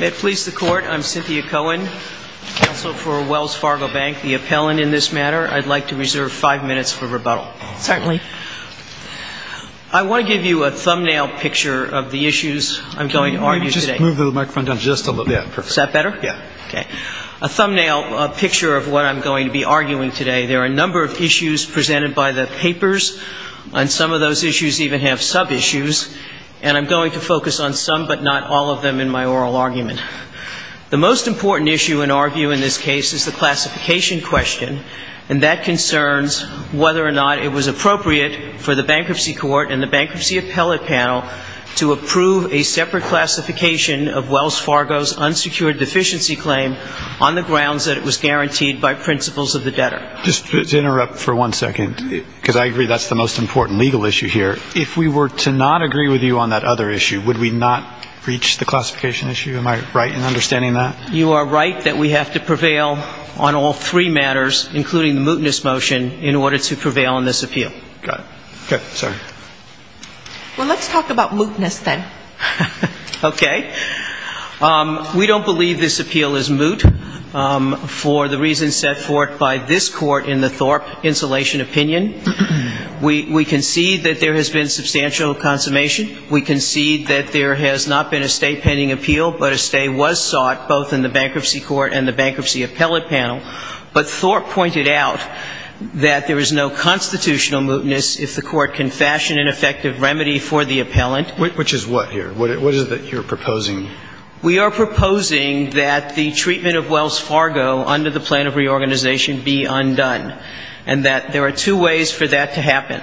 May it please the court, I'm Cynthia Cohen, counsel for Wells Fargo Bank, the appellant in this matter. I'd like to reserve five minutes for rebuttal. Certainly. I want to give you a thumbnail picture of the issues I'm going to argue today. Can you just move the microphone down just a little bit? Is that better? Yeah. A thumbnail picture of what I'm going to be arguing today. There are a number of issues presented by the papers, and some of those issues even have sub-issues. And I'm going to focus on some but not all of them in my oral argument. The most important issue in our view in this case is the classification question, and that concerns whether or not it was appropriate for the bankruptcy court and the bankruptcy appellate panel to approve a separate classification of Wells Fargo's unsecured deficiency claim on the grounds that it was guaranteed by principles of the debtor. Just to interrupt for one second, because I agree that's the most important legal issue here. If we were to not agree with you on that other issue, would we not breach the classification issue? Am I right in understanding that? You are right that we have to prevail on all three matters, including the mootness motion, in order to prevail on this appeal. Got it. Okay. Sorry. Well, let's talk about mootness then. Okay. We don't believe this appeal is moot for the reasons set forth by this Court in the Thorpe insulation opinion. We concede that there has been substantial consummation. We concede that there has not been a State pending appeal, but a stay was sought both in the bankruptcy court and the bankruptcy appellate panel. But Thorpe pointed out that there is no constitutional mootness if the Court can fashion an effective remedy for the appellant. Which is what here? What is it that you're proposing? We are proposing that the treatment of Wells Fargo under the plan of reorganization be undone. And that there are two ways for that to happen.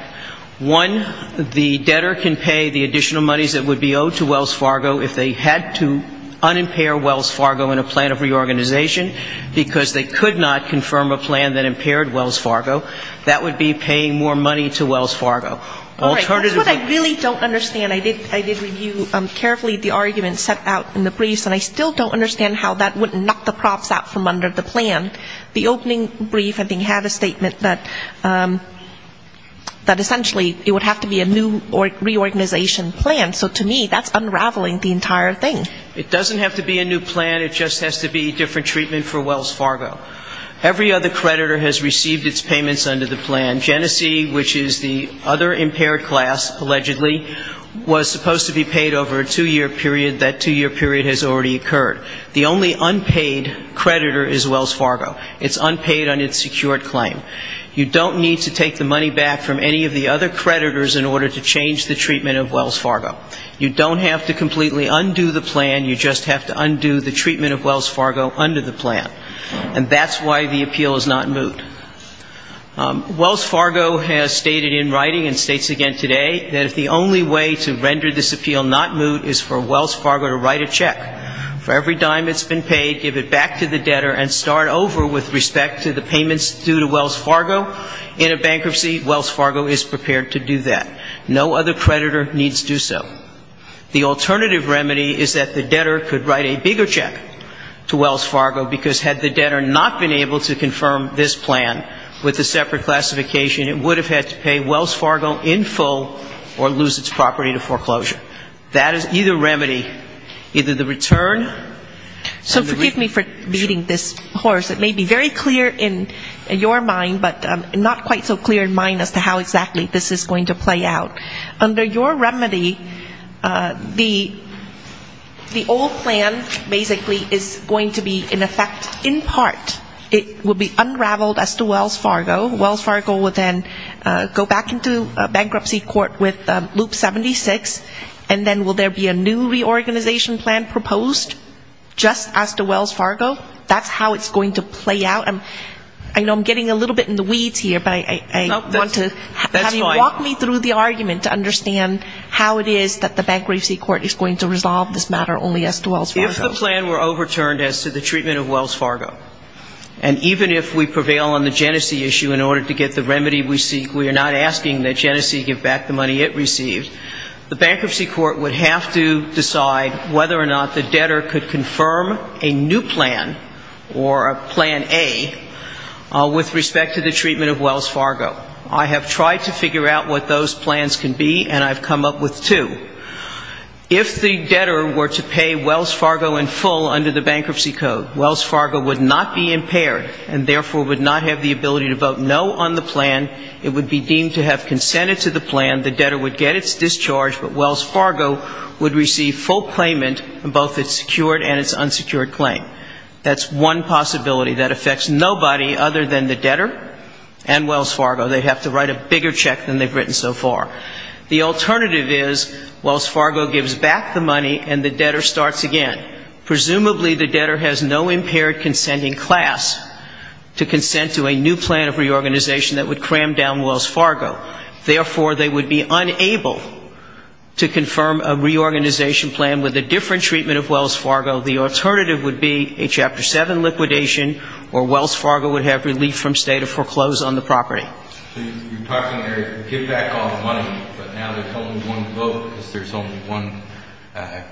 One, the debtor can pay the additional monies that would be owed to Wells Fargo if they had to unimpair Wells Fargo in a plan of reorganization, because they could not confirm a plan that impaired Wells Fargo. That would be paying more money to Wells Fargo. That's what I really don't understand. I did review carefully the argument set out in the briefs, and I still don't understand how that would knock the props out from under the plan. The opening brief, I think, had a statement that essentially it would have to be a new reorganization plan. So to me, that's unraveling the entire thing. It doesn't have to be a new plan. It just has to be different treatment for Wells Fargo. Every other creditor has received its payments under the plan. Genesee, which is the other impaired class, allegedly, was supposed to be paid over a two-year period. That two-year period has already occurred. The only unpaid creditor is Wells Fargo. It's unpaid on its secured claim. You don't need to take the money back from any of the other creditors in order to change the treatment of Wells Fargo. You don't have to completely undo the plan. You just have to undo the treatment of Wells Fargo under the plan. And that's why the appeal is not moved. Wells Fargo has stated in writing, and states again today, that if the only way to render this appeal not moved is for Wells Fargo to write a check for every dime it's been paid, give it back to the debtor and start over with respect to the payments due to Wells Fargo in a bankruptcy, Wells Fargo is prepared to do that. No other creditor needs to do so. The alternative remedy is that the debtor could write a bigger check to Wells Fargo, because had the debtor not been able to confirm this plan with a separate classification, it would have had to pay Wells Fargo in full or lose its property to foreclosure. That is either remedy, either the return. So forgive me for beating this horse. It may be very clear in your mind, but not quite so clear in mine as to how exactly this is going to play out. Under your remedy, the old plan basically is going to be in effect in part. It will be unraveled as to Wells Fargo. Wells Fargo will then go back into bankruptcy court with Loop 76, and then will there be a new reorganization plan proposed just as to Wells Fargo? That's how it's going to play out. I know I'm getting a little bit in the weeds here, but I want to have you walk me through the argument. I want to understand how it is that the bankruptcy court is going to resolve this matter only as to Wells Fargo. If the plan were overturned as to the treatment of Wells Fargo, and even if we prevail on the Genesee issue in order to get the remedy we seek, we are not asking that Genesee give back the money it received, the bankruptcy court would have to decide whether or not the debtor could confirm a new plan or a plan A with respect to the treatment of Wells Fargo. I have tried to figure out what those plans can be, and I've come up with two. If the debtor were to pay Wells Fargo in full under the bankruptcy code, Wells Fargo would not be impaired and therefore would not have the ability to vote no on the plan. It would be deemed to have consented to the plan. The debtor would get its discharge, but Wells Fargo would receive full claimant in both its secured and its unsecured claim. That's one possibility that affects nobody other than the debtor and Wells Fargo. They'd have to write a bigger check than they've written so far. The alternative is Wells Fargo gives back the money and the debtor starts again. Presumably the debtor has no impaired consenting class to consent to a new plan of reorganization that would cram down Wells Fargo. Therefore, they would be unable to confirm a reorganization plan with a different treatment of Wells Fargo. The alternative would be a Chapter 7 liquidation or Wells Fargo would have relief from state of foreclose on the property. So you're talking there, give back all the money, but now there's only one vote because there's only one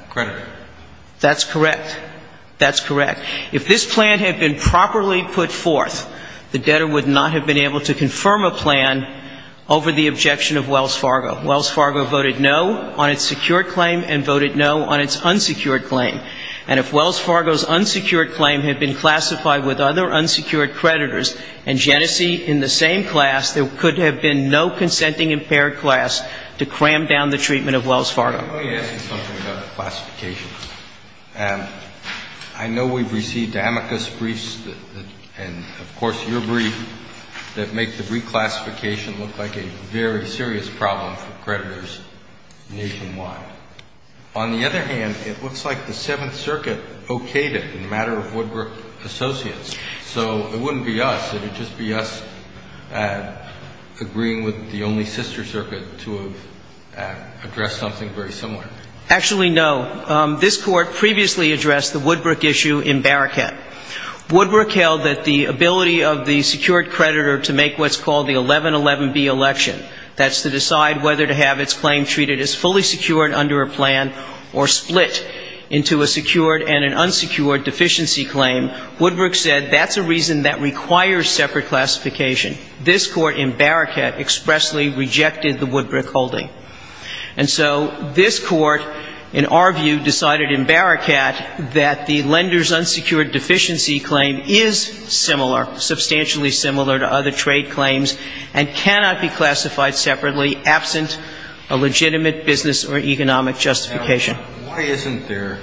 creditor. That's correct. That's correct. If this plan had been properly put forth, the debtor would not have been able to confirm a plan over the objection of Wells Fargo. Wells Fargo voted no on its secured claim and voted no on its unsecured claim. And if Wells Fargo's unsecured claim had been classified with other unsecured creditors and Genesee in the same class, there could have been no consenting impaired class to cram down the treatment of Wells Fargo. Let me ask you something about the classification. I know we've received amicus briefs and, of course, your brief that make the reclassification look like a very serious problem for creditors nationwide. On the other hand, it looks like the Seventh Circuit okayed it in the matter of Woodbrook Associates. So it wouldn't be us. It would just be us agreeing with the only sister circuit to address something very similar. Actually, no. This Court previously addressed the Woodbrook issue in Barrickhead. Woodbrook held that the ability of the secured creditor to make what's called the 1111B election, that's to decide whether to have its claim treated as fully secured under a plan or split into a secured and an unsecured deficiency claim, Woodbrook said that's a reason that requires separate classification. This Court in Barrickhead expressly rejected the Woodbrook holding. And so this Court, in our view, decided in Barrickhead that the lender's unsecured deficiency claim is similar, substantially similar to other trade claims and cannot be classified separately absent a legitimate business or economic justification. Now, why isn't there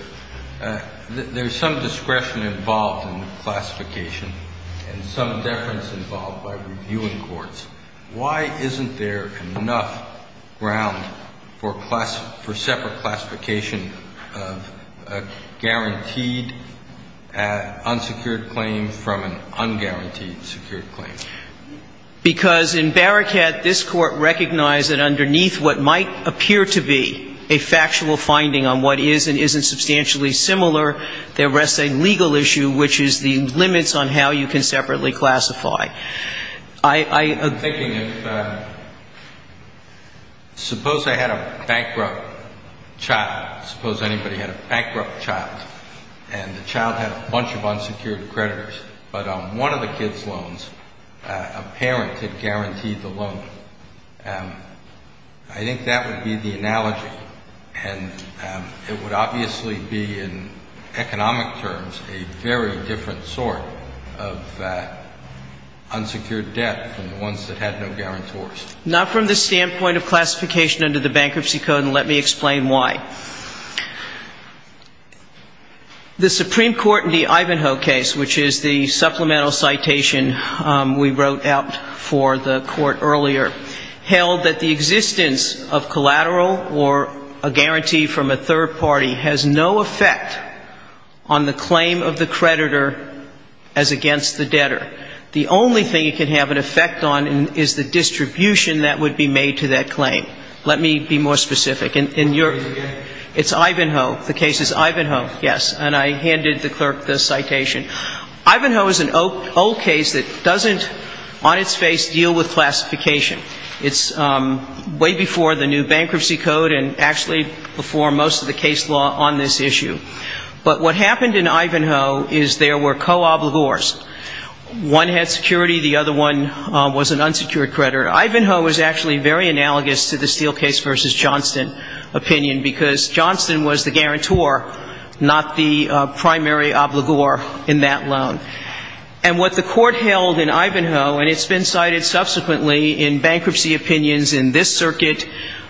– there's some discretion involved in classification and some deference involved by reviewing courts. Why isn't there enough ground for separate classification of a guaranteed unsecured claim from an unguaranteed secured claim? Because in Barrickhead, this Court recognized that underneath what might appear to be a factual finding on what is and isn't substantially similar, there rests a legal issue, which is the limits on how you can separately classify. I'm thinking if – suppose I had a bankrupt child, suppose anybody had a bankrupt child, and the child had a bunch of unsecured creditors, but on one of the kid's loans, a parent had guaranteed the loan. I think that would be the analogy, and it would obviously be in economic terms a very different sort of unsecured debt from the ones that had no guarantors. Not from the standpoint of classification under the Bankruptcy Code, and let me explain why. The Supreme Court in the Ivanhoe case, which is the supplemental citation we wrote out for the Court earlier, held that the existence of collateral or a guarantee from a third party has no effect on the claim of the creditor as against the debtor. The only thing it could have an effect on is the distribution that would be made to that claim. Let me be more specific. It's Ivanhoe. The case is Ivanhoe, yes, and I handed the clerk the citation. Ivanhoe is an old case that doesn't on its face deal with classification. It's way before the new Bankruptcy Code and actually before most of the case law on this issue. But what happened in Ivanhoe is there were co-oblivors. One had security, the other one was an unsecured creditor. Ivanhoe was actually very analogous to the Steelcase v. Johnston opinion because Johnston was the guarantor, not the primary obligor in that loan. And what the Court held in Ivanhoe, and it's been cited subsequently in bankruptcy opinions in this circuit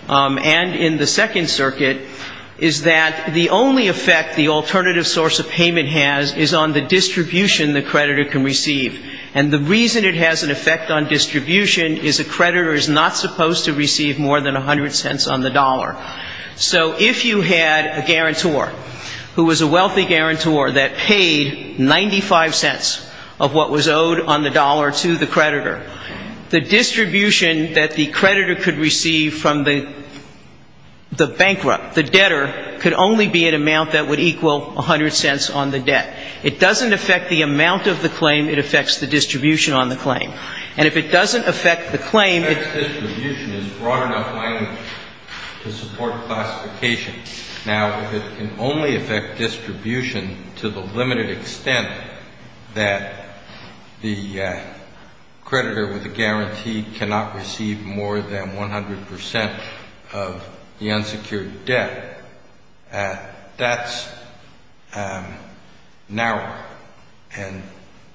and in the Second Circuit, is that the only effect the alternative source of payment has is on the distribution the creditor can receive. And the reason it has an effect on distribution is a creditor is not supposed to receive more than 100 cents on the dollar. So if you had a guarantor who was a wealthy guarantor that paid 95 cents of what was owed on the dollar to the creditor, the distribution that the creditor could receive from the bankrupt, the debtor, could only be an amount that would equal 100 cents on the debt. It doesn't affect the amount of the claim. It affects the distribution on the claim. And if it doesn't affect the claim, it's distribution is broad enough language to support classification. Now, if it can only affect distribution to the limited extent that the creditor with a guarantee cannot receive more than 100 percent of the unsecured debt, that's narrower. And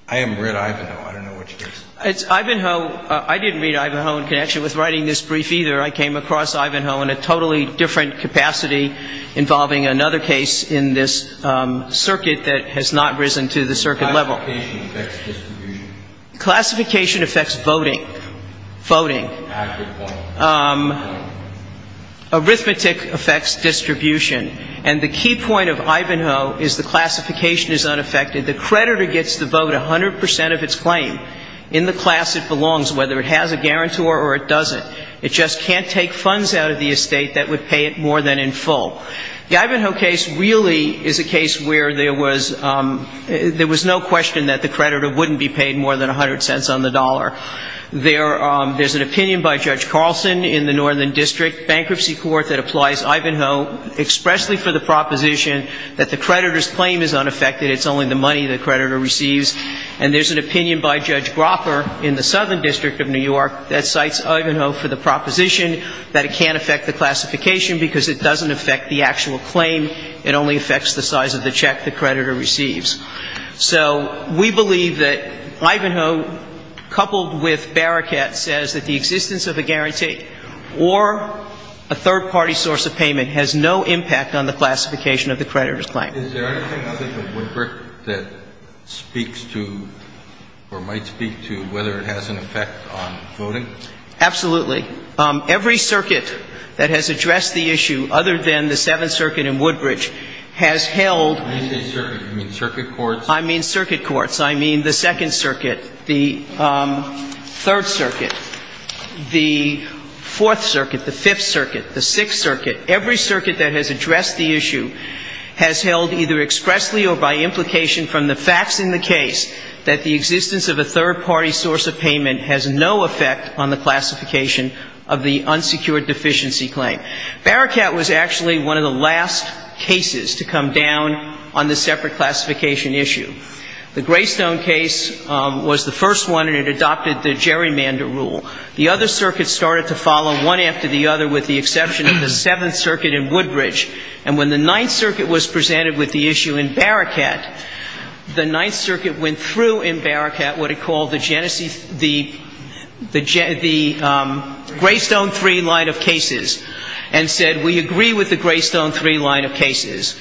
I haven't read Ivanhoe. I don't know what your case is. It's Ivanhoe. I didn't read Ivanhoe in connection with writing this brief either. I came across Ivanhoe in a totally different capacity involving another case in this circuit that has not risen to the circuit level. Classification affects distribution. Classification affects voting. Voting. Arithmetic affects distribution. And the key point of Ivanhoe is the classification is unaffected. The creditor gets to vote 100 percent of its claim in the class it belongs, whether it has a guarantor or it doesn't. It just can't take funds out of the estate that would pay it more than in full. The Ivanhoe case really is a case where there was no question that the creditor wouldn't be paid more than 100 cents on the dollar. There's an opinion by Judge Carlson in the Northern District Bankruptcy Court that applies Ivanhoe expressly for the proposition that the creditor's claim is unaffected. It's only the money the creditor receives. And there's an opinion by Judge Gropper in the Southern District of New York that cites Ivanhoe for the proposition that it can't affect the classification because it doesn't affect the actual claim. It only affects the size of the check the creditor receives. So we believe that Ivanhoe, coupled with Baraket, says that the existence of a guarantee or a third-party source of payment has no impact on the classification of the creditor's claim. Is there anything other than Woodbridge that speaks to or might speak to whether it has an effect on voting? Absolutely. Every circuit that has addressed the issue, other than the Seventh Circuit in Woodbridge, has held When you say circuit, you mean circuit courts? I mean circuit courts. I mean the Second Circuit, the Third Circuit, the Fourth Circuit, the Fifth Circuit, the Sixth Circuit. Every circuit that has addressed the issue has held either expressly or by implication from the facts in the case that the existence of a third-party source of payment has no effect on the classification of the unsecured deficiency claim. Baraket was actually one of the last cases to come down on the separate classification issue. The Greystone case was the first one, and it adopted the gerrymander rule. The other circuits started to follow one after the other, with the exception of the Seventh Circuit in Woodbridge. And when the Ninth Circuit was presented with the issue in Baraket, the Ninth Circuit went through in Baraket what it called the greystone three line of cases, and said we agree with the greystone three line of cases,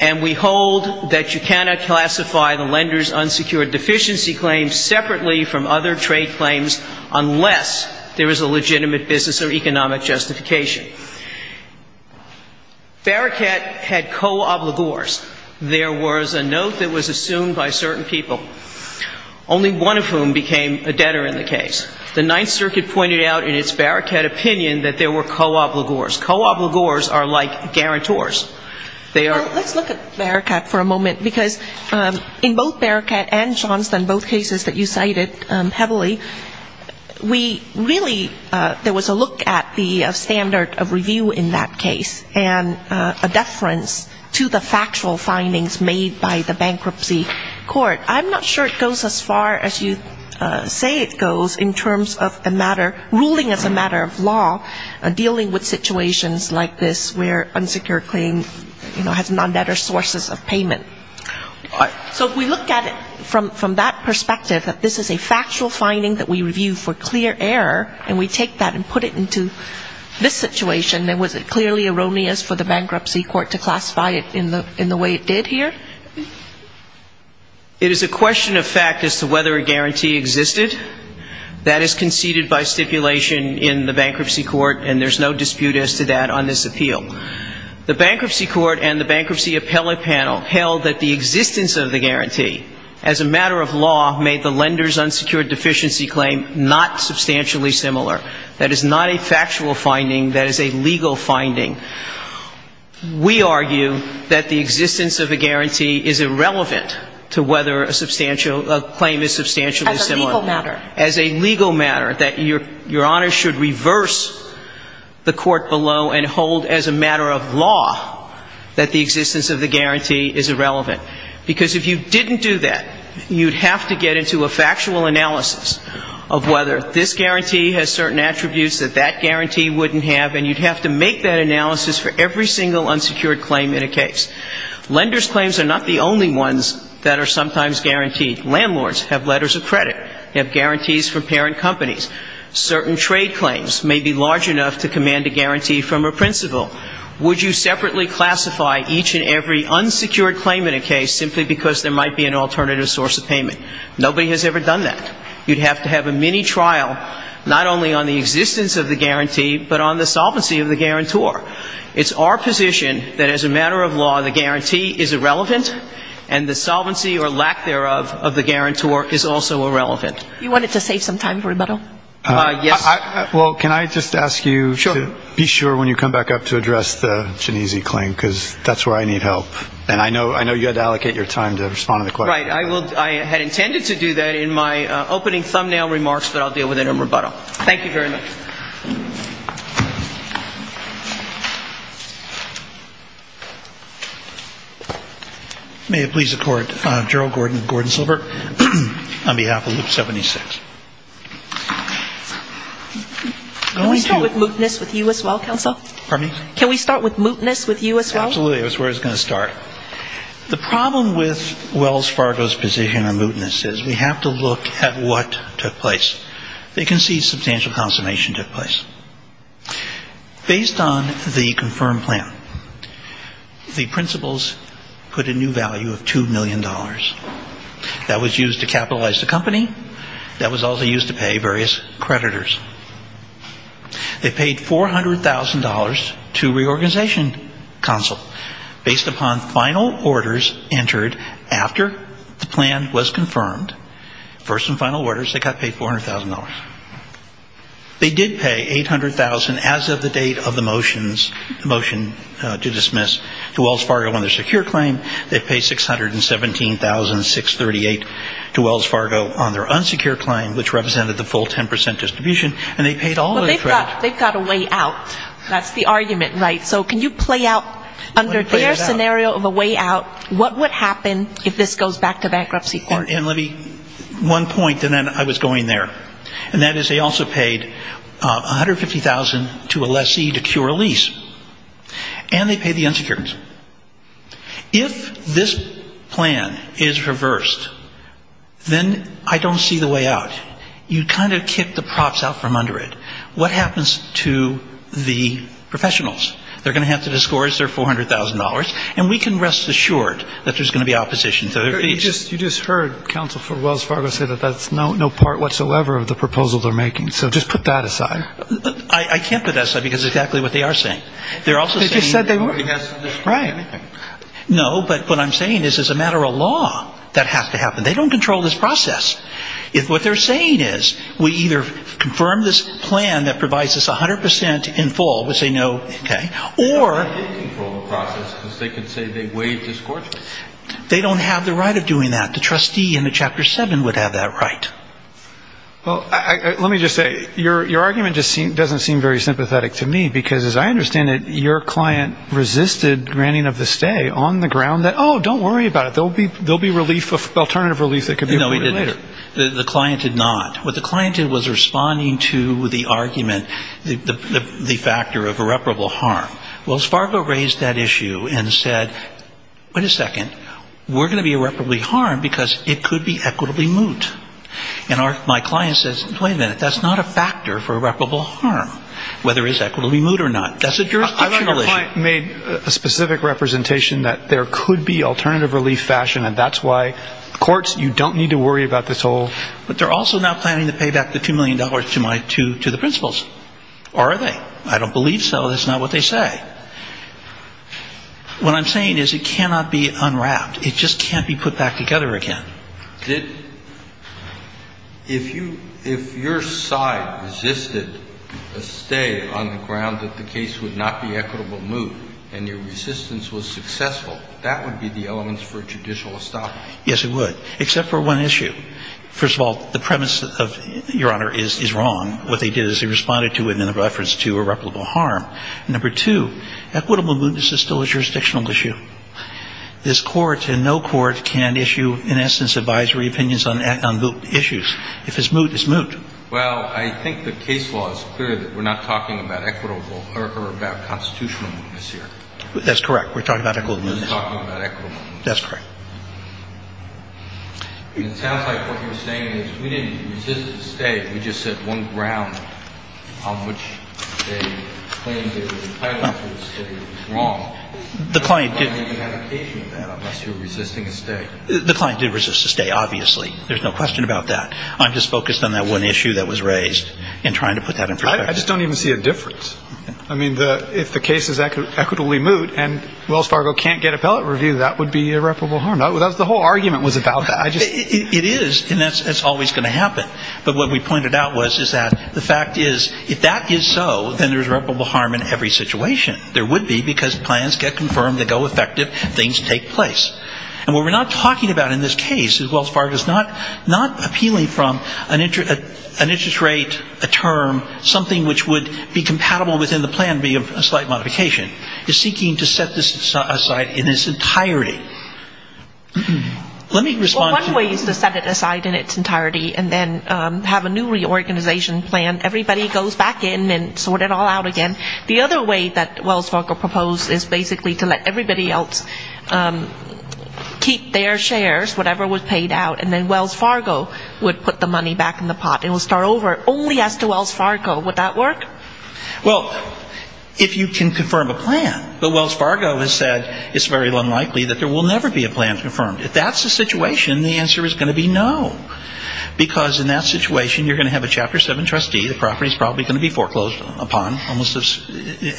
and we hold that you cannot classify the lender's unsecured deficiency claim separately from other trade claims unless there is a legitimate business or economic justification. Baraket had co-obligors. There was a note that was assumed by certain people. Only one of whom became a debtor in the case. The Ninth Circuit pointed out in its Baraket opinion that there were co-obligors. Co-obligors are like guarantors. They are ‑‑ Well, let's look at Baraket for a moment, because in both Baraket and Johnston, both cases that you cited heavily, we really ‑‑ there was a look at the standard of review in that case, and a deference to the factual findings made by the bankruptcy court. I'm not sure it goes as far as you say it goes in terms of a matter, ruling as a matter of law, dealing with situations like this where unsecured claim, you know, has non‑debtor sources of payment. So if we look at it from that perspective, that this is a factual finding that we review for clear error, and we take that and put it into this situation, then was it clearly erroneous for the bankruptcy court to classify it in the way it did here? It is a question of fact as to whether a guarantee existed. That is conceded by stipulation in the bankruptcy court, and there's no dispute as to that on this appeal. The bankruptcy court and the bankruptcy appellate panel held that the existence of the guarantee, as a matter of law, made the lender's unsecured deficiency claim not substantially similar. That is not a factual finding. That is a legal finding. We argue that the existence of a guarantee is irrelevant to whether a claim is substantially similar. As a legal matter. As a legal matter. That Your Honor should reverse the court below and hold as a matter of law that the existence of the guarantee is irrelevant. Because if you didn't do that, you'd have to get into a factual analysis of whether this guarantee has certain attributes that that guarantee wouldn't have, and you'd have to make that analysis for every single unsecured claim in a case. Lenders' claims are not the only ones that are sometimes guaranteed. Landlords have letters of credit. They have guarantees from parent companies. Certain trade claims may be large enough to command a guarantee from a principal. Would you separately classify each and every unsecured claim in a case simply because there might be an alternative source of payment? Nobody has ever done that. You'd have to have a mini-trial, not only on the existence of the guarantee, but on the solvency of the guarantor. It's our position that as a matter of law, the guarantee is irrelevant, and the solvency or lack thereof of the guarantor is also irrelevant. You wanted to save some time for rebuttal. Yes. Well, can I just ask you to be sure when you come back up to address the Genesee claim, because that's where I need help. And I know you had to allocate your time to respond to the question. Right. I had intended to do that in my opening thumbnail remarks, but I'll deal with it in rebuttal. Thank you very much. May it please the Court, Gerald Gordon Silver on behalf of Loop 76. Can we start with mootness with you as well, Counsel? Pardon me? Can we start with mootness with you as well? Absolutely. That's where I was going to start. The problem with Wells Fargo's position on mootness is we have to look at what took place. They concede substantial consummation took place. Based on the confirmed plan, the principals put a new value of $2 million. That was used to capitalize the company. That was also used to pay various creditors. They paid $400,000 to reorganization counsel. Based upon final orders entered after the plan was confirmed, first and final orders, they got paid $400,000. They did pay $800,000 as of the date of the motion to dismiss to Wells Fargo on their secure claim. They paid $617,638 to Wells Fargo on their unsecure claim, which represented the full 10% distribution. And they paid all of the creditors. They've got a way out. That's the argument, right? So can you play out under their scenario of a way out what would happen if this goes back to bankruptcy court? One point, and then I was going there. And that is they also paid $150,000 to a lessee to cure a lease. And they paid the unsecureds. If this plan is reversed, then I don't see the way out. You kind of kick the props out from under it. What happens to the professionals? They're going to have to discourage their $400,000. And we can rest assured that there's going to be opposition to their case. You just heard counsel for Wells Fargo say that that's no part whatsoever of the proposal they're making. So just put that aside. I can't put that aside because it's exactly what they are saying. They're also saying that nobody has to destroy anything. No, but what I'm saying is as a matter of law, that has to happen. They don't control this process. If what they're saying is we either confirm this plan that provides us 100% in full, we'll say no, okay, or they don't have the right of doing that. The trustee in Chapter 7 would have that right. Well, let me just say, your argument just doesn't seem very sympathetic to me because as I understand it, your client resisted granting of the stay on the ground that, oh, don't worry about it, there will be alternative relief that can be afforded later. No, he didn't. The client did not. What the client did was responding to the argument, the factor of irreparable harm. Wells Fargo raised that issue and said, wait a second, we're going to be irreparably harmed because it could be equitably moot. And my client says, wait a minute, that's not a factor for irreparable harm, whether it's equitably moot or not. That's a jurisdictional issue. I thought your client made a specific representation that there could be alternative relief fashion and that's why courts, you don't need to worry about the toll. But they're also not planning to pay back the $2 million to the principals, are they? I don't believe so. That's not what they say. What I'm saying is it cannot be unwrapped. It just can't be put back together again. If your side resisted a stay on the ground that the case would not be equitably moot and your resistance was successful, that would be the elements for judicial estoppage. Yes, it would, except for one issue. First of all, the premise of, Your Honor, is wrong. What they did is they responded to it in reference to irreparable harm. Number two, equitable mootness is still a jurisdictional issue. This Court and no court can issue, in essence, advisory opinions on moot issues. If it's moot, it's moot. Well, I think the case law is clear that we're not talking about equitable or about constitutional mootness here. That's correct. We're talking about equitable mootness. We're talking about equitable mootness. That's correct. It sounds like what you're saying is we didn't resist a stay. We just said one ground on which they claimed it was entitled to a stay was wrong. The client did resist a stay, obviously. There's no question about that. I'm just focused on that one issue that was raised and trying to put that in perspective. I just don't even see a difference. I mean, if the case is equitably moot and Wells Fargo can't get appellate review, that would be irreparable harm. The whole argument was about that. It is, and that's always going to happen. But what we pointed out was is that the fact is if that is so, then there's irreparable harm in every situation. There would be because plans get confirmed, they go effective, things take place. And what we're not talking about in this case is Wells Fargo is not appealing from an interest rate, a term, something which would be compatible within the plan, be a slight modification. It's seeking to set this aside in its entirety. Let me respond to that. Well, one way is to set it aside in its entirety and then have a new reorganization plan. Everybody goes back in and sort it all out again. The other way that Wells Fargo proposed is basically to let everybody else keep their shares, whatever was paid out, and then Wells Fargo would put the money back in the pot and would start over. Only as to Wells Fargo, would that work? Well, if you can confirm a plan. But Wells Fargo has said it's very unlikely that there will never be a plan confirmed. If that's the situation, the answer is going to be no. Because in that situation, you're going to have a Chapter 7 trustee. The property is probably going to be foreclosed upon, almost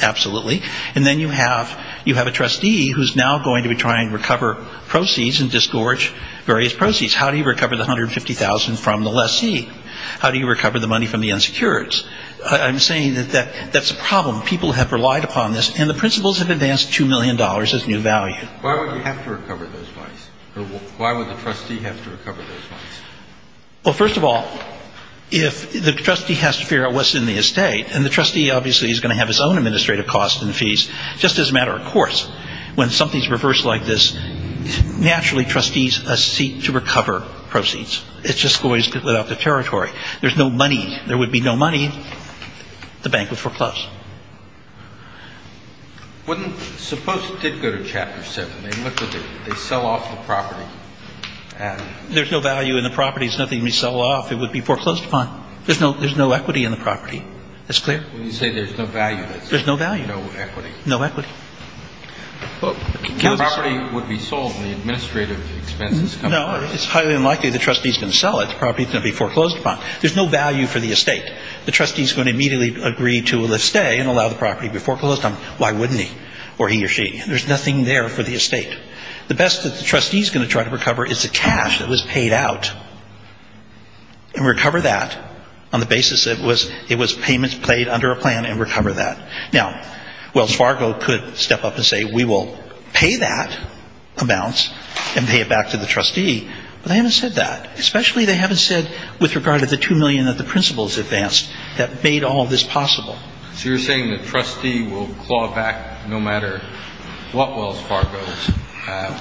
absolutely. And then you have a trustee who's now going to be trying to recover proceeds and disgorge various proceeds. How do you recover the $150,000 from the lessee? How do you recover the money from the insecurities? I'm saying that that's a problem. People have relied upon this. And the principals have advanced $2 million as new value. Why would you have to recover those monies? Why would the trustee have to recover those monies? Well, first of all, if the trustee has to figure out what's in the estate, and the trustee obviously is going to have his own administrative costs and fees, just as a matter of course, when something's reversed like this, naturally trustees seek to recover proceeds. It just goes without the territory. There's no money. There would be no money. The bank would foreclose. Suppose it did go to Chapter 7. They look at it. They sell off the property. There's no value in the property. It's nothing to be sold off. It would be foreclosed upon. There's no equity in the property. That's clear? When you say there's no value, that's it? There's no value. No equity. No equity. The property would be sold. The administrative expenses come first. No. It's highly unlikely the trustee's going to sell it. The property's going to be foreclosed upon. There's no value for the estate. The trustee's going to immediately agree to a stay and allow the property to be foreclosed on. Why wouldn't he? Or he or she? There's nothing there for the estate. The best that the trustee's going to try to recover is the cash that was paid out. And recover that on the basis that it was payments played under a plan and recover that. Now, Wells Fargo could step up and say we will pay that amount and pay it back to the trustee. But they haven't said that. Especially they haven't said with regard to the $2 million that the principals advanced that made all of this possible. So you're saying the trustee will claw back no matter what Wells Fargo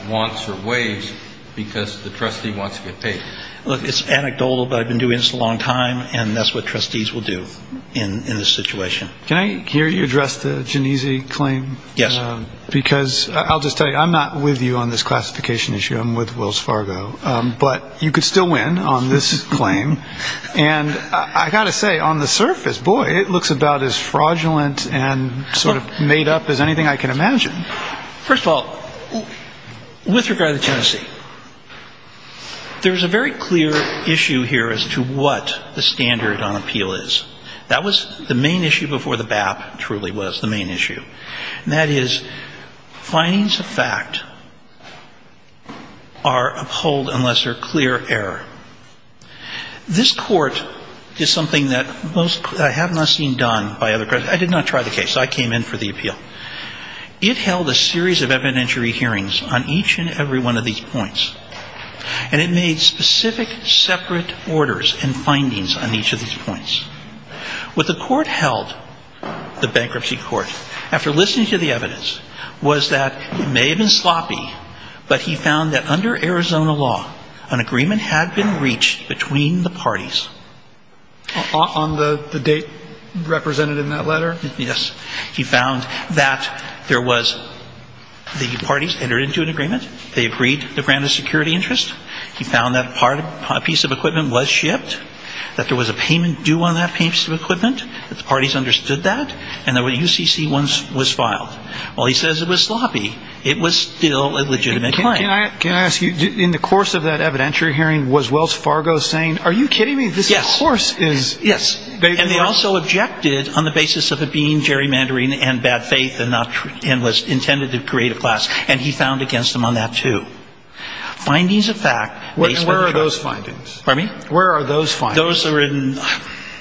wants or waives because the trustee wants to get paid. Look, it's anecdotal, but I've been doing this a long time, and that's what trustees will do in this situation. Can I hear you address the Genesee claim? Yes. Because I'll just tell you, I'm not with you on this classification issue. I'm with Wells Fargo. But you could still win on this claim. And I've got to say, on the surface, boy, it looks about as fraudulent and sort of made up as anything I can imagine. First of all, with regard to the Genesee, there's a very clear issue here as to what the standard on appeal is. That was the main issue before the BAP truly was the main issue. And that is findings of fact are upheld unless they're clear error. This court did something that I have not seen done by other courts. I did not try the case. I came in for the appeal. It held a series of evidentiary hearings on each and every one of these points. And it made specific separate orders and findings on each of these points. What the court held, the bankruptcy court, after listening to the evidence, was that it may have been sloppy, but he found that under Arizona law, an agreement had been reached between the parties. On the date represented in that letter? Yes. He found that there was the parties entered into an agreement. They agreed to grant a security interest. He found that a piece of equipment was shipped, that there was a payment due on that piece of equipment, that the parties understood that, and that a UCC was filed. While he says it was sloppy, it was still a legitimate claim. Can I ask you, in the course of that evidentiary hearing, was Wells Fargo saying, are you kidding me? Yes. This, of course, is very clear. Yes. And they also objected on the basis of it being gerrymandering and bad faith and was intended to create a class. And he found against them on that, too. Findings of fact. Where are those findings? Pardon me? Where are those findings? Those are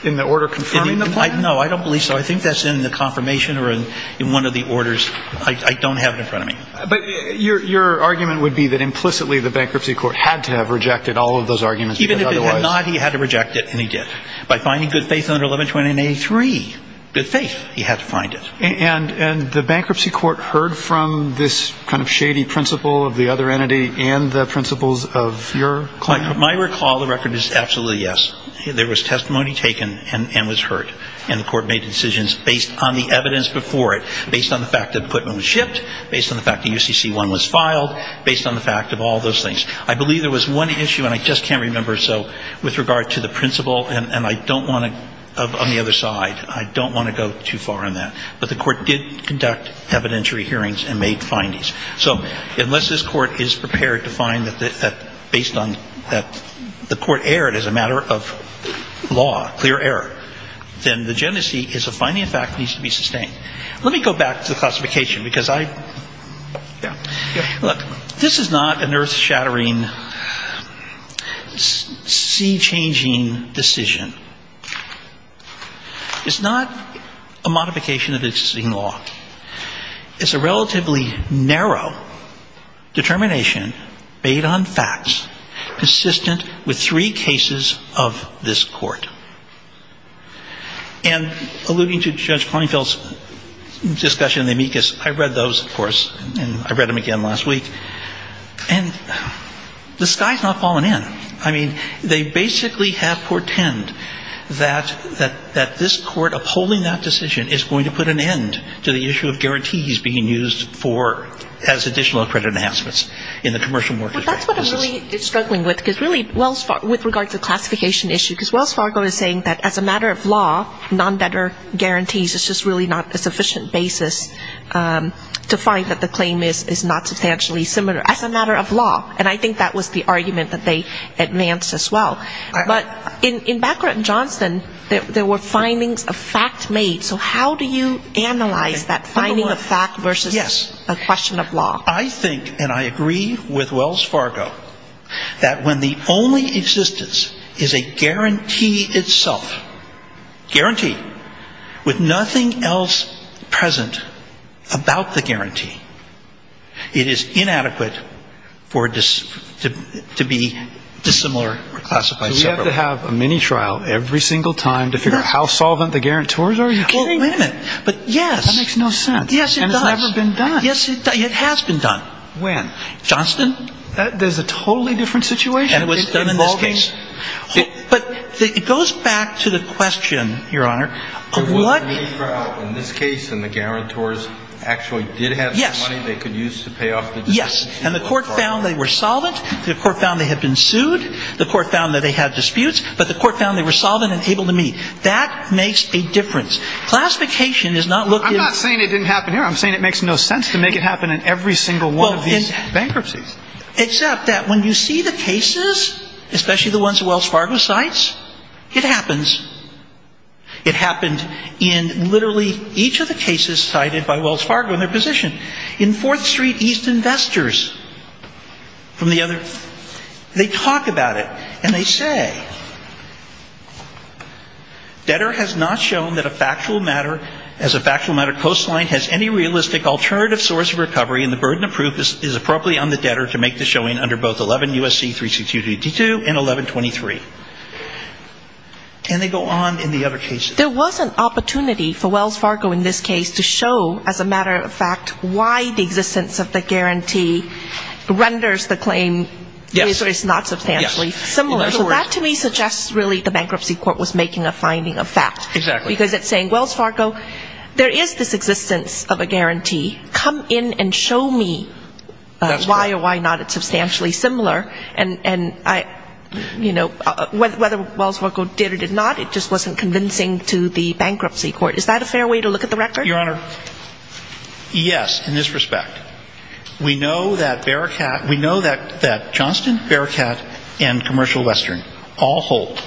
in the order confirming the claim? No, I don't believe so. I think that's in the confirmation or in one of the orders. I don't have it in front of me. But your argument would be that implicitly the bankruptcy court had to have rejected all of those arguments. Even if it had not, he had to reject it, and he did. By finding good faith under 1129A3, good faith, he had to find it. And the bankruptcy court heard from this kind of shady principle of the other entity and the principles of your claim? My recall of the record is absolutely yes. There was testimony taken and was heard. And the court made decisions based on the evidence before it, based on the fact that Putnam was shipped, based on the fact that UCC-1 was filed, based on the fact of all those things. I believe there was one issue, and I just can't remember, so with regard to the principle, and I don't want to go on the other side. I don't want to go too far on that. But the court did conduct evidentiary hearings and made findings. So unless this court is prepared to find that based on that the court erred as a matter of law, clear error, then the Genesee is a finding, in fact, that needs to be sustained. Let me go back to the classification because I – yeah. Look, this is not an earth-shattering, sea-changing decision. It's not a modification of existing law. It's a relatively narrow determination made on facts, consistent with three cases of this court. And alluding to Judge Conefield's discussion of the amicus, I read those, of course, and I read them again last week. And the sky has not fallen in. I mean, they basically have portend that this court, upholding that decision, is going to put an end to the issue of guarantees being used as additional credit enhancements in the commercial mortgages. Well, that's what I'm really struggling with, because really, with regard to the classification issue, because Wells Fargo is saying that as a matter of law, non-better guarantees is just really not a sufficient basis to find that the claim is not substantially similar, as a matter of law. And I think that was the argument that they advanced as well. But in background, Johnson, there were findings of fact made. So how do you analyze that finding of fact versus a question of law? I think, and I agree with Wells Fargo, that when the only existence is a guarantee itself, guarantee, with nothing else present about the guarantee, it is inadequate for it to be dissimilar or classified separately. So we have to have a mini-trial every single time to figure out how solvent the guarantors are? Are you kidding? Well, wait a minute. But yes. That makes no sense. Yes, it does. And it's never been done. Yes, it has been done. When? Johnson? There's a totally different situation. And it was done in this case. But it goes back to the question, Your Honor, of what? There was a mini-trial in this case, and the guarantors actually did have some money they could use to pay off the dispute. Yes. And the Court found they were solvent. The Court found they had been sued. The Court found that they had disputes. But the Court found they were solvent and able to meet. That makes a difference. Classification does not look in the... I'm not saying it didn't happen here. I'm saying it makes no sense to make it happen in every single one of these bankruptcies. Except that when you see the cases, especially the ones Wells Fargo cites, it happens. It happened in literally each of the cases cited by Wells Fargo and their position. In Fourth Street, East Investors, from the other... They talk about it. And they say, debtor has not shown that a factual matter as a factual matter coastline has any realistic alternative source of recovery and the burden of proof is appropriately on the debtor to make the showing under both 11 U.S.C. 3622 and 1123. And they go on in the other cases. There was an opportunity for Wells Fargo in this case to show, as a matter of fact, why the existence of the guarantee renders the claim not substantially similar. Yes. Unless, really, the bankruptcy court was making a finding of fact. Exactly. Because it's saying, Wells Fargo, there is this existence of a guarantee. Come in and show me why or why not it's substantially similar. And, you know, whether Wells Fargo did or did not, it just wasn't convincing to the bankruptcy court. Is that a fair way to look at the record? Your Honor, yes, in this respect. We know that Bearcat, we know that Johnston, Bearcat and Commercial Western all hold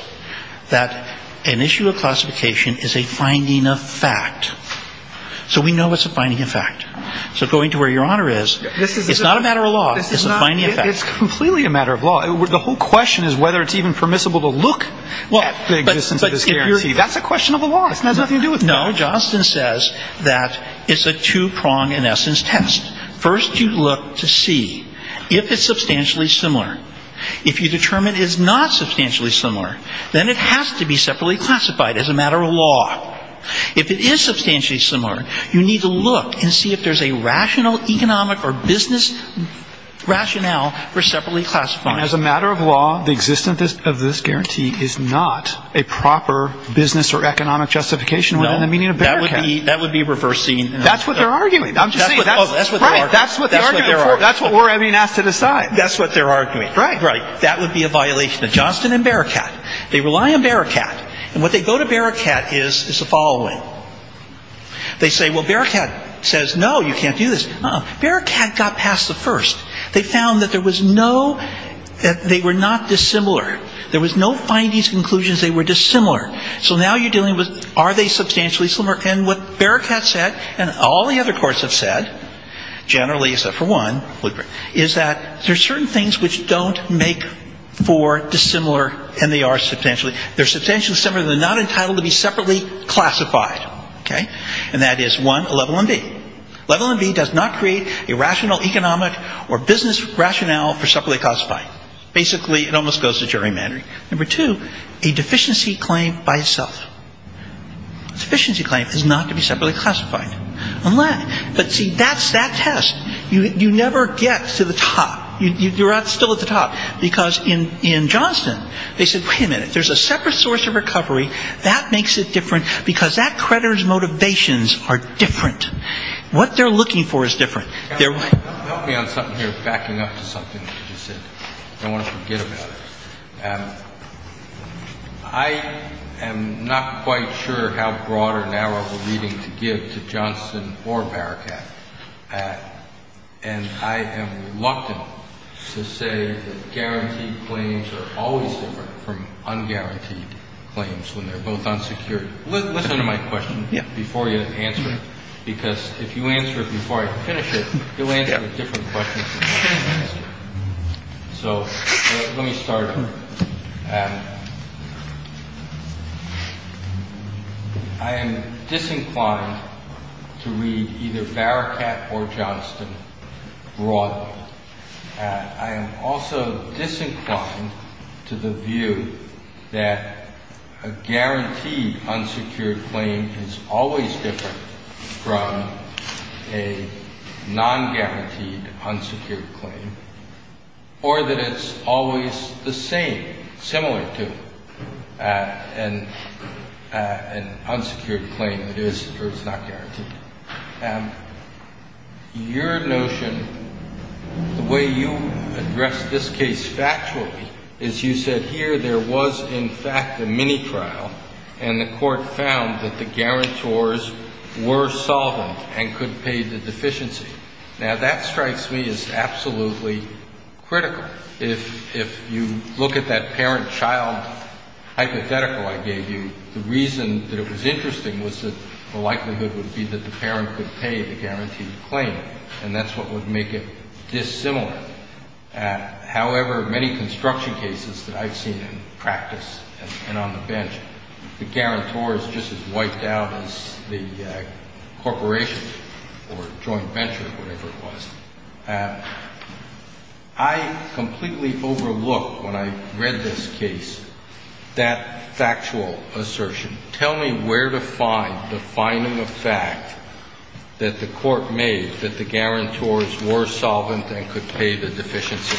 that an issue of classification is a finding of fact. So we know it's a finding of fact. So going to where Your Honor is, it's not a matter of law. It's a finding of fact. It's completely a matter of law. The whole question is whether it's even permissible to look at the existence of this guarantee. That's a question of the law. It has nothing to do with law. No, Johnston says that it's a two-pronged, in essence, test. First you look to see if it's substantially similar. If you determine it's not substantially similar, then it has to be separately classified as a matter of law. If it is substantially similar, you need to look and see if there's a rational economic or business rationale for separately classifying. And as a matter of law, the existence of this guarantee is not a proper business or economic justification. No, that would be reversing. That's what they're arguing. I'm just saying. That's what they're arguing. That's what we're being asked to decide. That's what they're arguing. Right, right. That would be a violation of Johnston and Bearcat. They rely on Bearcat. And what they go to Bearcat is the following. They say, well, Bearcat says, no, you can't do this. Uh-uh. Bearcat got past the first. They found that there was no ‑‑ that they were not dissimilar. There was no findings, conclusions. They were dissimilar. So now you're dealing with are they substantially similar. And what Bearcat said and all the other courts have said, generally, except for one, is that there's certain things which don't make for dissimilar and they are substantially. They're substantially similar. They're not entitled to be separately classified. Okay? And that is, one, a level MV. Level MV does not create a rational economic or business rationale for separately classifying. Basically, it almost goes to gerrymandering. Number two, a deficiency claim by itself. A deficiency claim is not to be separately classified. Unless ‑‑ but, see, that's that test. You never get to the top. You're not still at the top. Because in Johnston, they said, wait a minute, there's a separate source of recovery. That makes it different because that creditor's motivations are different. What they're looking for is different. Help me on something here, backing up to something that you just said. I don't want to forget about it. I am not quite sure how broad or narrow of a reading to give to Johnston or Bearcat. And I am reluctant to say that guaranteed claims are always different from unguaranteed claims when they're both unsecured. Listen to my question before you answer it. Because if you answer it before I finish it, you'll answer it with different questions. So let me start. I am disinclined to read either Bearcat or Johnston broadly. I am also disinclined to the view that a guaranteed unsecured claim is always different from a nonguaranteed unsecured claim, or that it's always the same, similar to an unsecured claim that is or is not guaranteed. Your notion, the way you address this case factually is you said here there was in fact a mini trial, and the court found that the guarantors were solvent and could pay the deficiency. Now, that strikes me as absolutely critical. If you look at that parent-child hypothetical I gave you, the reason that it was interesting was that the likelihood would be that the parent could pay the guaranteed claim, and that's what would make it dissimilar. However, many construction cases that I've seen in practice and on the bench, the guarantor is just as wiped out as the corporation or joint venture, whatever it was. I completely overlooked when I read this case that factual assertion. Tell me where to find the finding of fact that the court made that the guarantors were solvent and could pay the deficiency.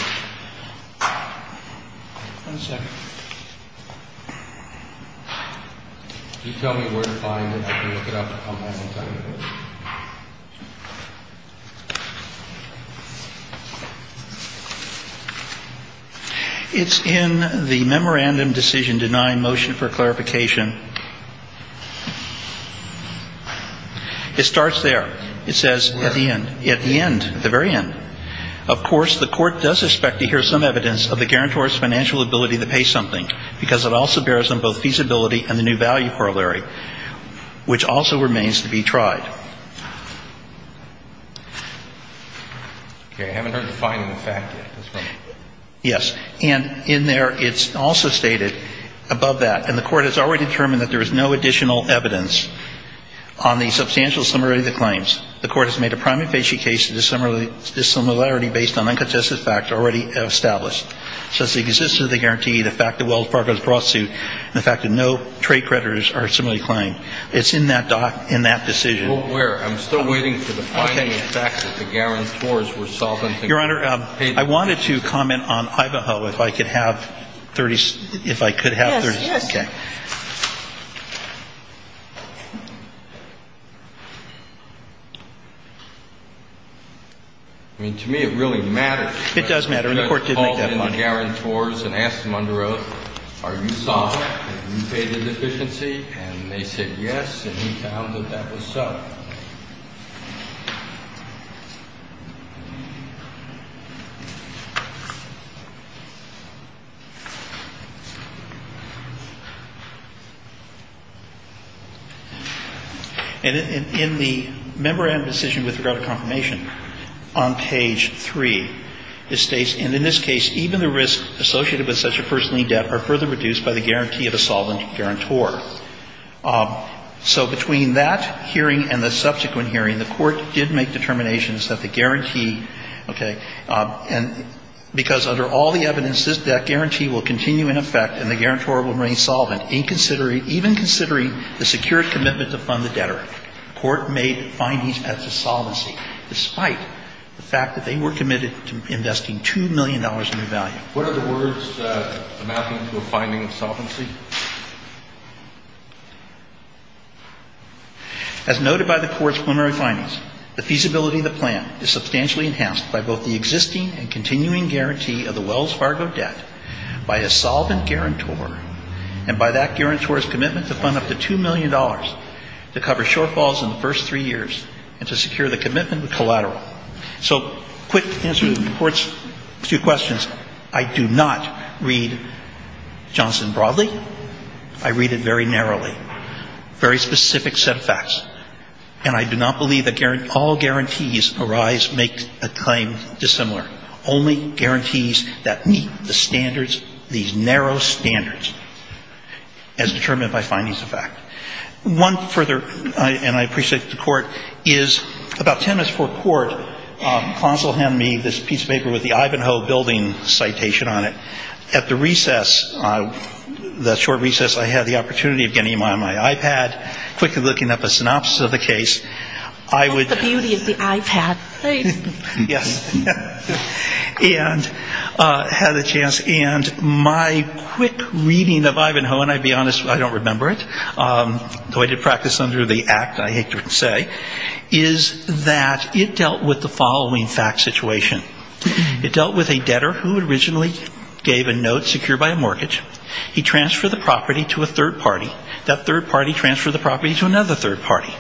It's in the memorandum decision denying motion for clarification. It starts there. It says at the end, at the end, the very end. Okay. I haven't heard the finding of fact yet. That's fine. Yes. And in there, it's also stated above that, and the court has already determined that there is no additional evidence on the substantial similarity of the claims. The court has made a prime efficiency case of dissimilarity based on uncontested similarity of the claims. So it's the existence of the guarantee, the fact that Wells Fargo is a broad suit, and the fact that no trade creditors are similarly claimed. It's in that decision. Where? I'm still waiting for the finding of fact that the guarantors were solvent and could pay the deficiency. Your Honor, I wanted to comment on Iboho, if I could have 30 seconds. Yes, yes. Okay. I mean, to me, it really matters. It does matter, and the court did make that point. I called in the guarantors and asked them under oath, are you solvent? Have you paid the deficiency? And they said yes, and we found that that was so. And in the member-owned decision with regard to confirmation, on page 3, it states, and in this case, even the risk associated with such a personal lien debt are further reduced by the guarantee of a solvent guarantor. So between that hearing and the subsequent hearing, the court did make determinations that the guarantee, okay, and because under all the evidence, that guarantee will continue in effect and the guarantor will remain solvent, even considering the secured commitment to fund the debtor, the court made findings as to solvency, despite the fact that they were committed to investing $2 million in the value. What are the words amounting to a finding of solvency? As noted by the court's preliminary findings, the feasibility of the plan is substantially enhanced by both the existing and continuing guarantee of the Wells Fargo debt by a solvent guarantor, and by that guarantor's commitment to fund up to $2 million to cover shortfalls in the first three years and to secure the commitment with collateral. So quick answer to the court's two questions. I do not read Johnson broadly. I read it very narrowly, very specific set of facts. And I do not believe that all guarantees arise, make a claim dissimilar, only guarantees that meet the standards, these narrow standards as determined by findings of fact. One further, and I appreciate the court, is about 10 minutes before court, counsel handed me this piece of paper with the citation on it. At the recess, the short recess, I had the opportunity of getting on my iPad, quickly looking up a synopsis of the case. I would --" And had a chance, and my quick reading of Ivanhoe, and I'll be honest, I don't remember it. Though I did practice under the act, I hate to say, is that it dealt with the following fact situation. It dealt with a debtor who originally gave a note secured by a mortgage. He transferred the property to a third party. That third party transferred the property to another third party.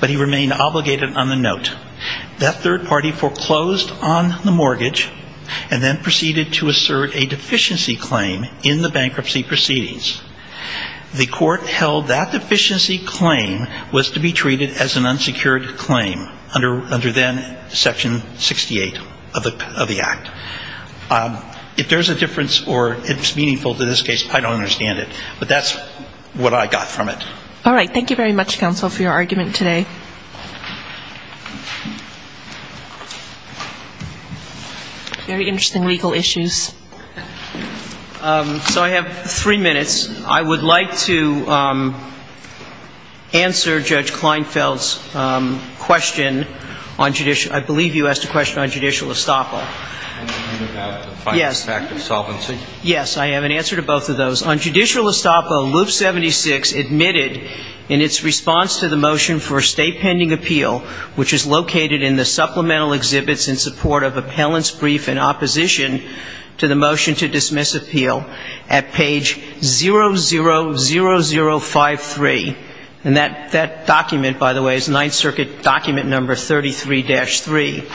But he remained obligated on the note. That third party foreclosed on the mortgage, and then proceeded to assert a deficiency claim in the bankruptcy proceedings. The court held that deficiency claim was to be treated as an unsecured claim, under then Section 68 of the Constitution. That's the flip of the act. If there's a difference, or it's meaningful to this case, I don't understand it. But that's what I got from it. All right. Thank you very much, counsel, for your argument today. Very interesting legal issues. So I have three minutes. I would like to answer Judge Kleinfeld's question on judicial -- I believe you asked a question on judicial estoppage. Yes. Yes, I have an answer to both of those. On judicial estoppage, Loop 76 admitted in its response to the motion for a state pending appeal, which is located in the supplemental exhibits in support of appellant's brief in opposition to the motion to dismiss appeal, at page 00053. And that document, by the way, is Ninth Circuit document number 33-3.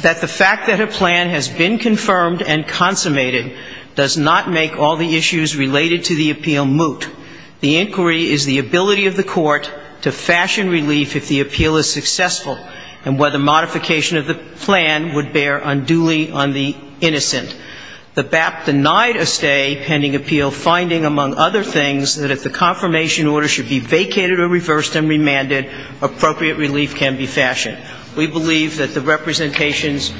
That the fact that a plan has been confirmed and consummated does not make all the issues related to the appeal moot. The inquiry is the ability of the court to fashion relief if the appeal is successful, and whether modification of the plan would bear unduly on the innocent. The BAP denied a stay pending appeal, finding, among other things, that if the confirmation order should be vacated or reversed and remanded, appropriate relief can be fashioned. We believe that the representations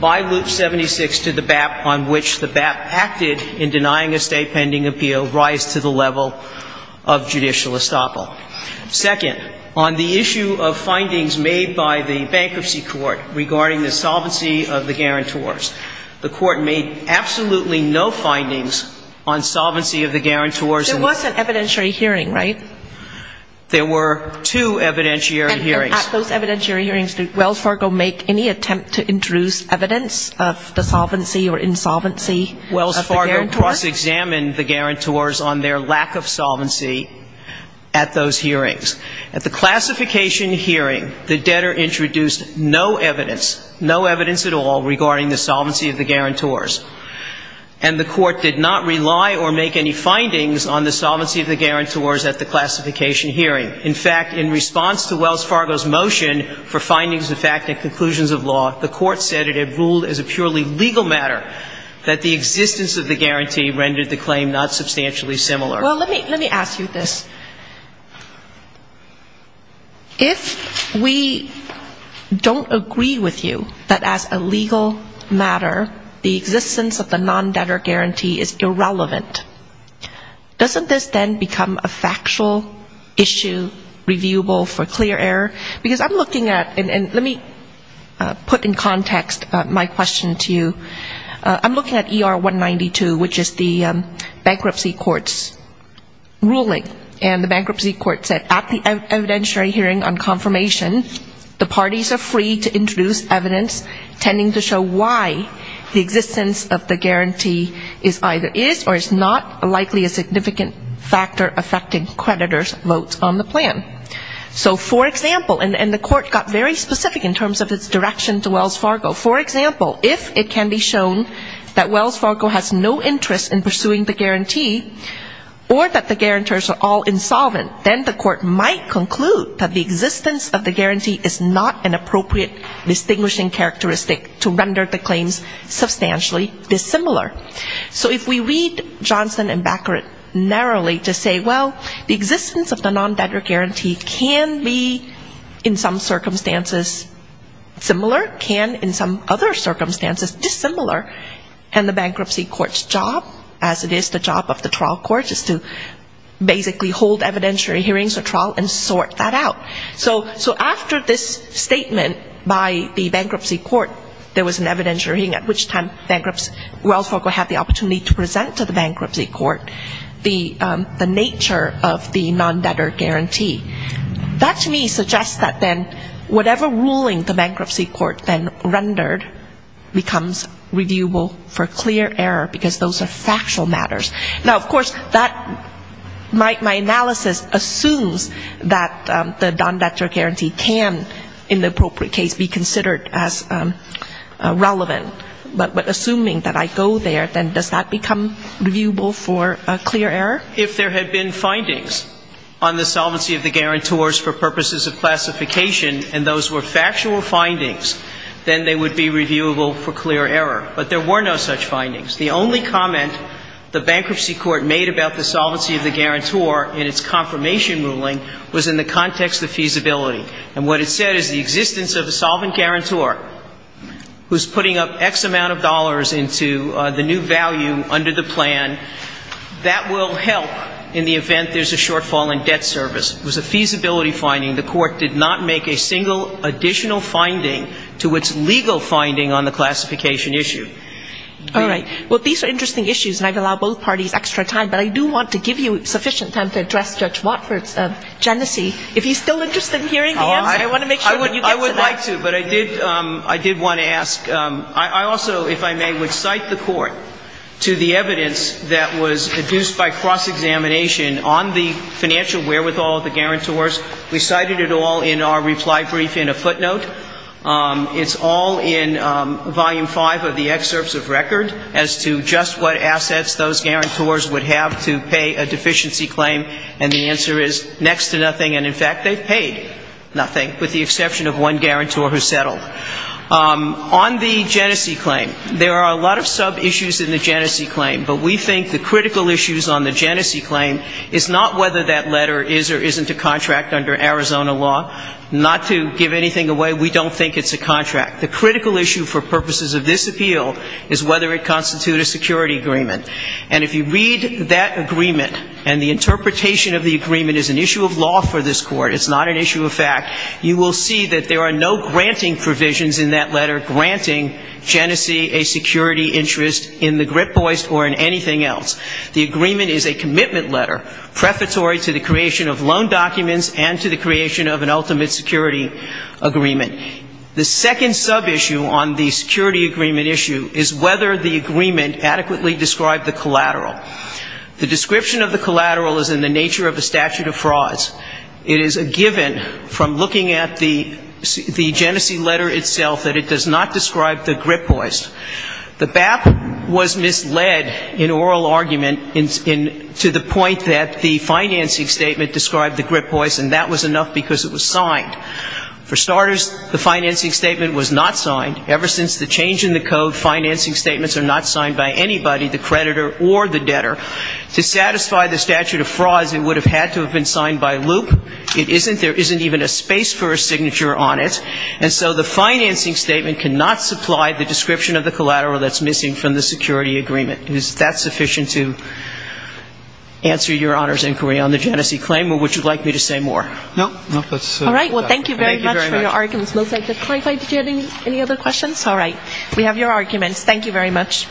by Loop 76 to the BAP on which the BAP acted in denying a stay pending appeal rise to the level of judicial estoppel. Second, on the issue of findings made by the bankruptcy court regarding the solvency of the guarantors, the court made absolutely no findings on solvency of the guarantors. There was an evidentiary hearing, right? There were two evidentiary hearings. And at those evidentiary hearings, did Wells Fargo make any attempt to introduce evidence of the solvency or insolvency of the guarantors? Wells Fargo cross-examined the guarantors on their lack of solvency at those hearings. At the classification hearing, the debtor introduced no evidence, no evidence at all, regarding the solvency of the guarantors. And the court did not rely or make any findings on the solvency of the guarantors at the classification hearing. In fact, in response to Wells Fargo's motion for findings of fact and conclusions of law, the court said it had ruled as a purely legal matter that the existence of the guarantee rendered the claim not substantially similar. Well, let me ask you this. If we don't agree with you that as a legal matter, the existence of the non-debtor guarantee is irrelevant, doesn't this then become a factual issue reviewable for clear error? Because I'm looking at, and let me put in context my question to you, I'm looking at ER 192, which is the bankruptcy court's ruling. And the bankruptcy court said at the evidentiary hearing on confirmation, the parties are free to introduce evidence tending to show why the existence of the guarantee is either is or is not likely a significant factor affecting creditors' votes on the plan. So, for example, and the court got very specific in terms of its direction to Wells Fargo. For example, if it can be shown that Wells Fargo has no interest in pursuing the guarantee, or that the guarantors are all insolvent, then the court might conclude that the existence of the guarantee is not an appropriate distinguishing characteristic to render the claims substantially dissimilar. So if we read Johnson and Baccarat narrowly to say, well, the existence of the non-debtor guarantee can be in some circumstances similar, can in some other circumstances dissimilar, and the bankruptcy court's job, as it is the job of the trial court, is to basically hold evidentiary hearings or trial and sort that out. So after this statement by the bankruptcy court, there was an evidentiary hearing, at which time Wells Fargo had the opportunity to present to the bankruptcy court the nature of the non-debtor guarantee. That to me suggests that then whatever ruling the bankruptcy court then rendered becomes reviewable. For clear error, because those are factual matters. Now, of course, that, my analysis assumes that the non-debtor guarantee can, in the appropriate case, be considered as relevant. But assuming that I go there, then does that become reviewable for clear error? If there had been findings on the solvency of the guarantors for purposes of classification, and those were factual findings, then they would be reviewable for clear error. There were no such findings. The only comment the bankruptcy court made about the solvency of the guarantor in its confirmation ruling was in the context of feasibility. And what it said is the existence of a solvent guarantor who's putting up X amount of dollars into the new value under the plan, that will help in the event there's a shortfall in debt service. It was a feasibility finding. The court did not make a single additional finding to its legal finding on the classification issue. All right. Well, these are interesting issues, and I've allowed both parties extra time. But I do want to give you sufficient time to address Judge Watford's genesis. If he's still interested in hearing the answer, I want to make sure that you get to that. I would like to, but I did want to ask. I also, if I may, would cite the court to the evidence that was produced by cross-examination on the financial wherewithal of the guarantors. We cited it all in our reply brief in a footnote. It's all in volume five of the excerpts of record as to just what assets those guarantors would have to pay a deficiency claim, and the answer is next to nothing. And, in fact, they've paid nothing, with the exception of one guarantor who settled. On the genesis claim, there are a lot of sub-issues in the genesis claim, but we think the critical issues on the genesis claim is not whether that letter is or isn't a contract under Arizona law. Not to give anything away, we don't think it's a contract. The critical issue for purposes of this appeal is whether it constitutes a security agreement. And if you read that agreement and the interpretation of the agreement is an issue of law for this Court, it's not an issue of fact, you will see that there are no granting provisions in that letter granting genesis a security interest in the grip voice or in anything else. The agreement is a commitment letter, prefatory to the creation of loan documents and to the creation of an ultimate security agreement. The second sub-issue on the security agreement issue is whether the agreement adequately described the collateral. The description of the collateral is in the nature of a statute of frauds. It is a given from looking at the genesis letter itself that it does not describe the grip voice. The BAP was misled in oral argument to the point that the financing statement described the grip voice, and that was enough because it was signed. For starters, the financing statement was not signed. Ever since the change in the code, financing statements are not signed by anybody, the creditor or the debtor. To satisfy the statute of frauds, it would have had to have been signed by loop. It isn't. There isn't even a space for a signature on it. And so the financing statement cannot supply the description of the collateral that's missing from the security agreement. Is that sufficient to answer your Honor's inquiry on the genesis claim, or would you like me to say more? No. All right. Well, thank you very much for your arguments. Did you have any other questions? All right. We have your arguments. Thank you very much.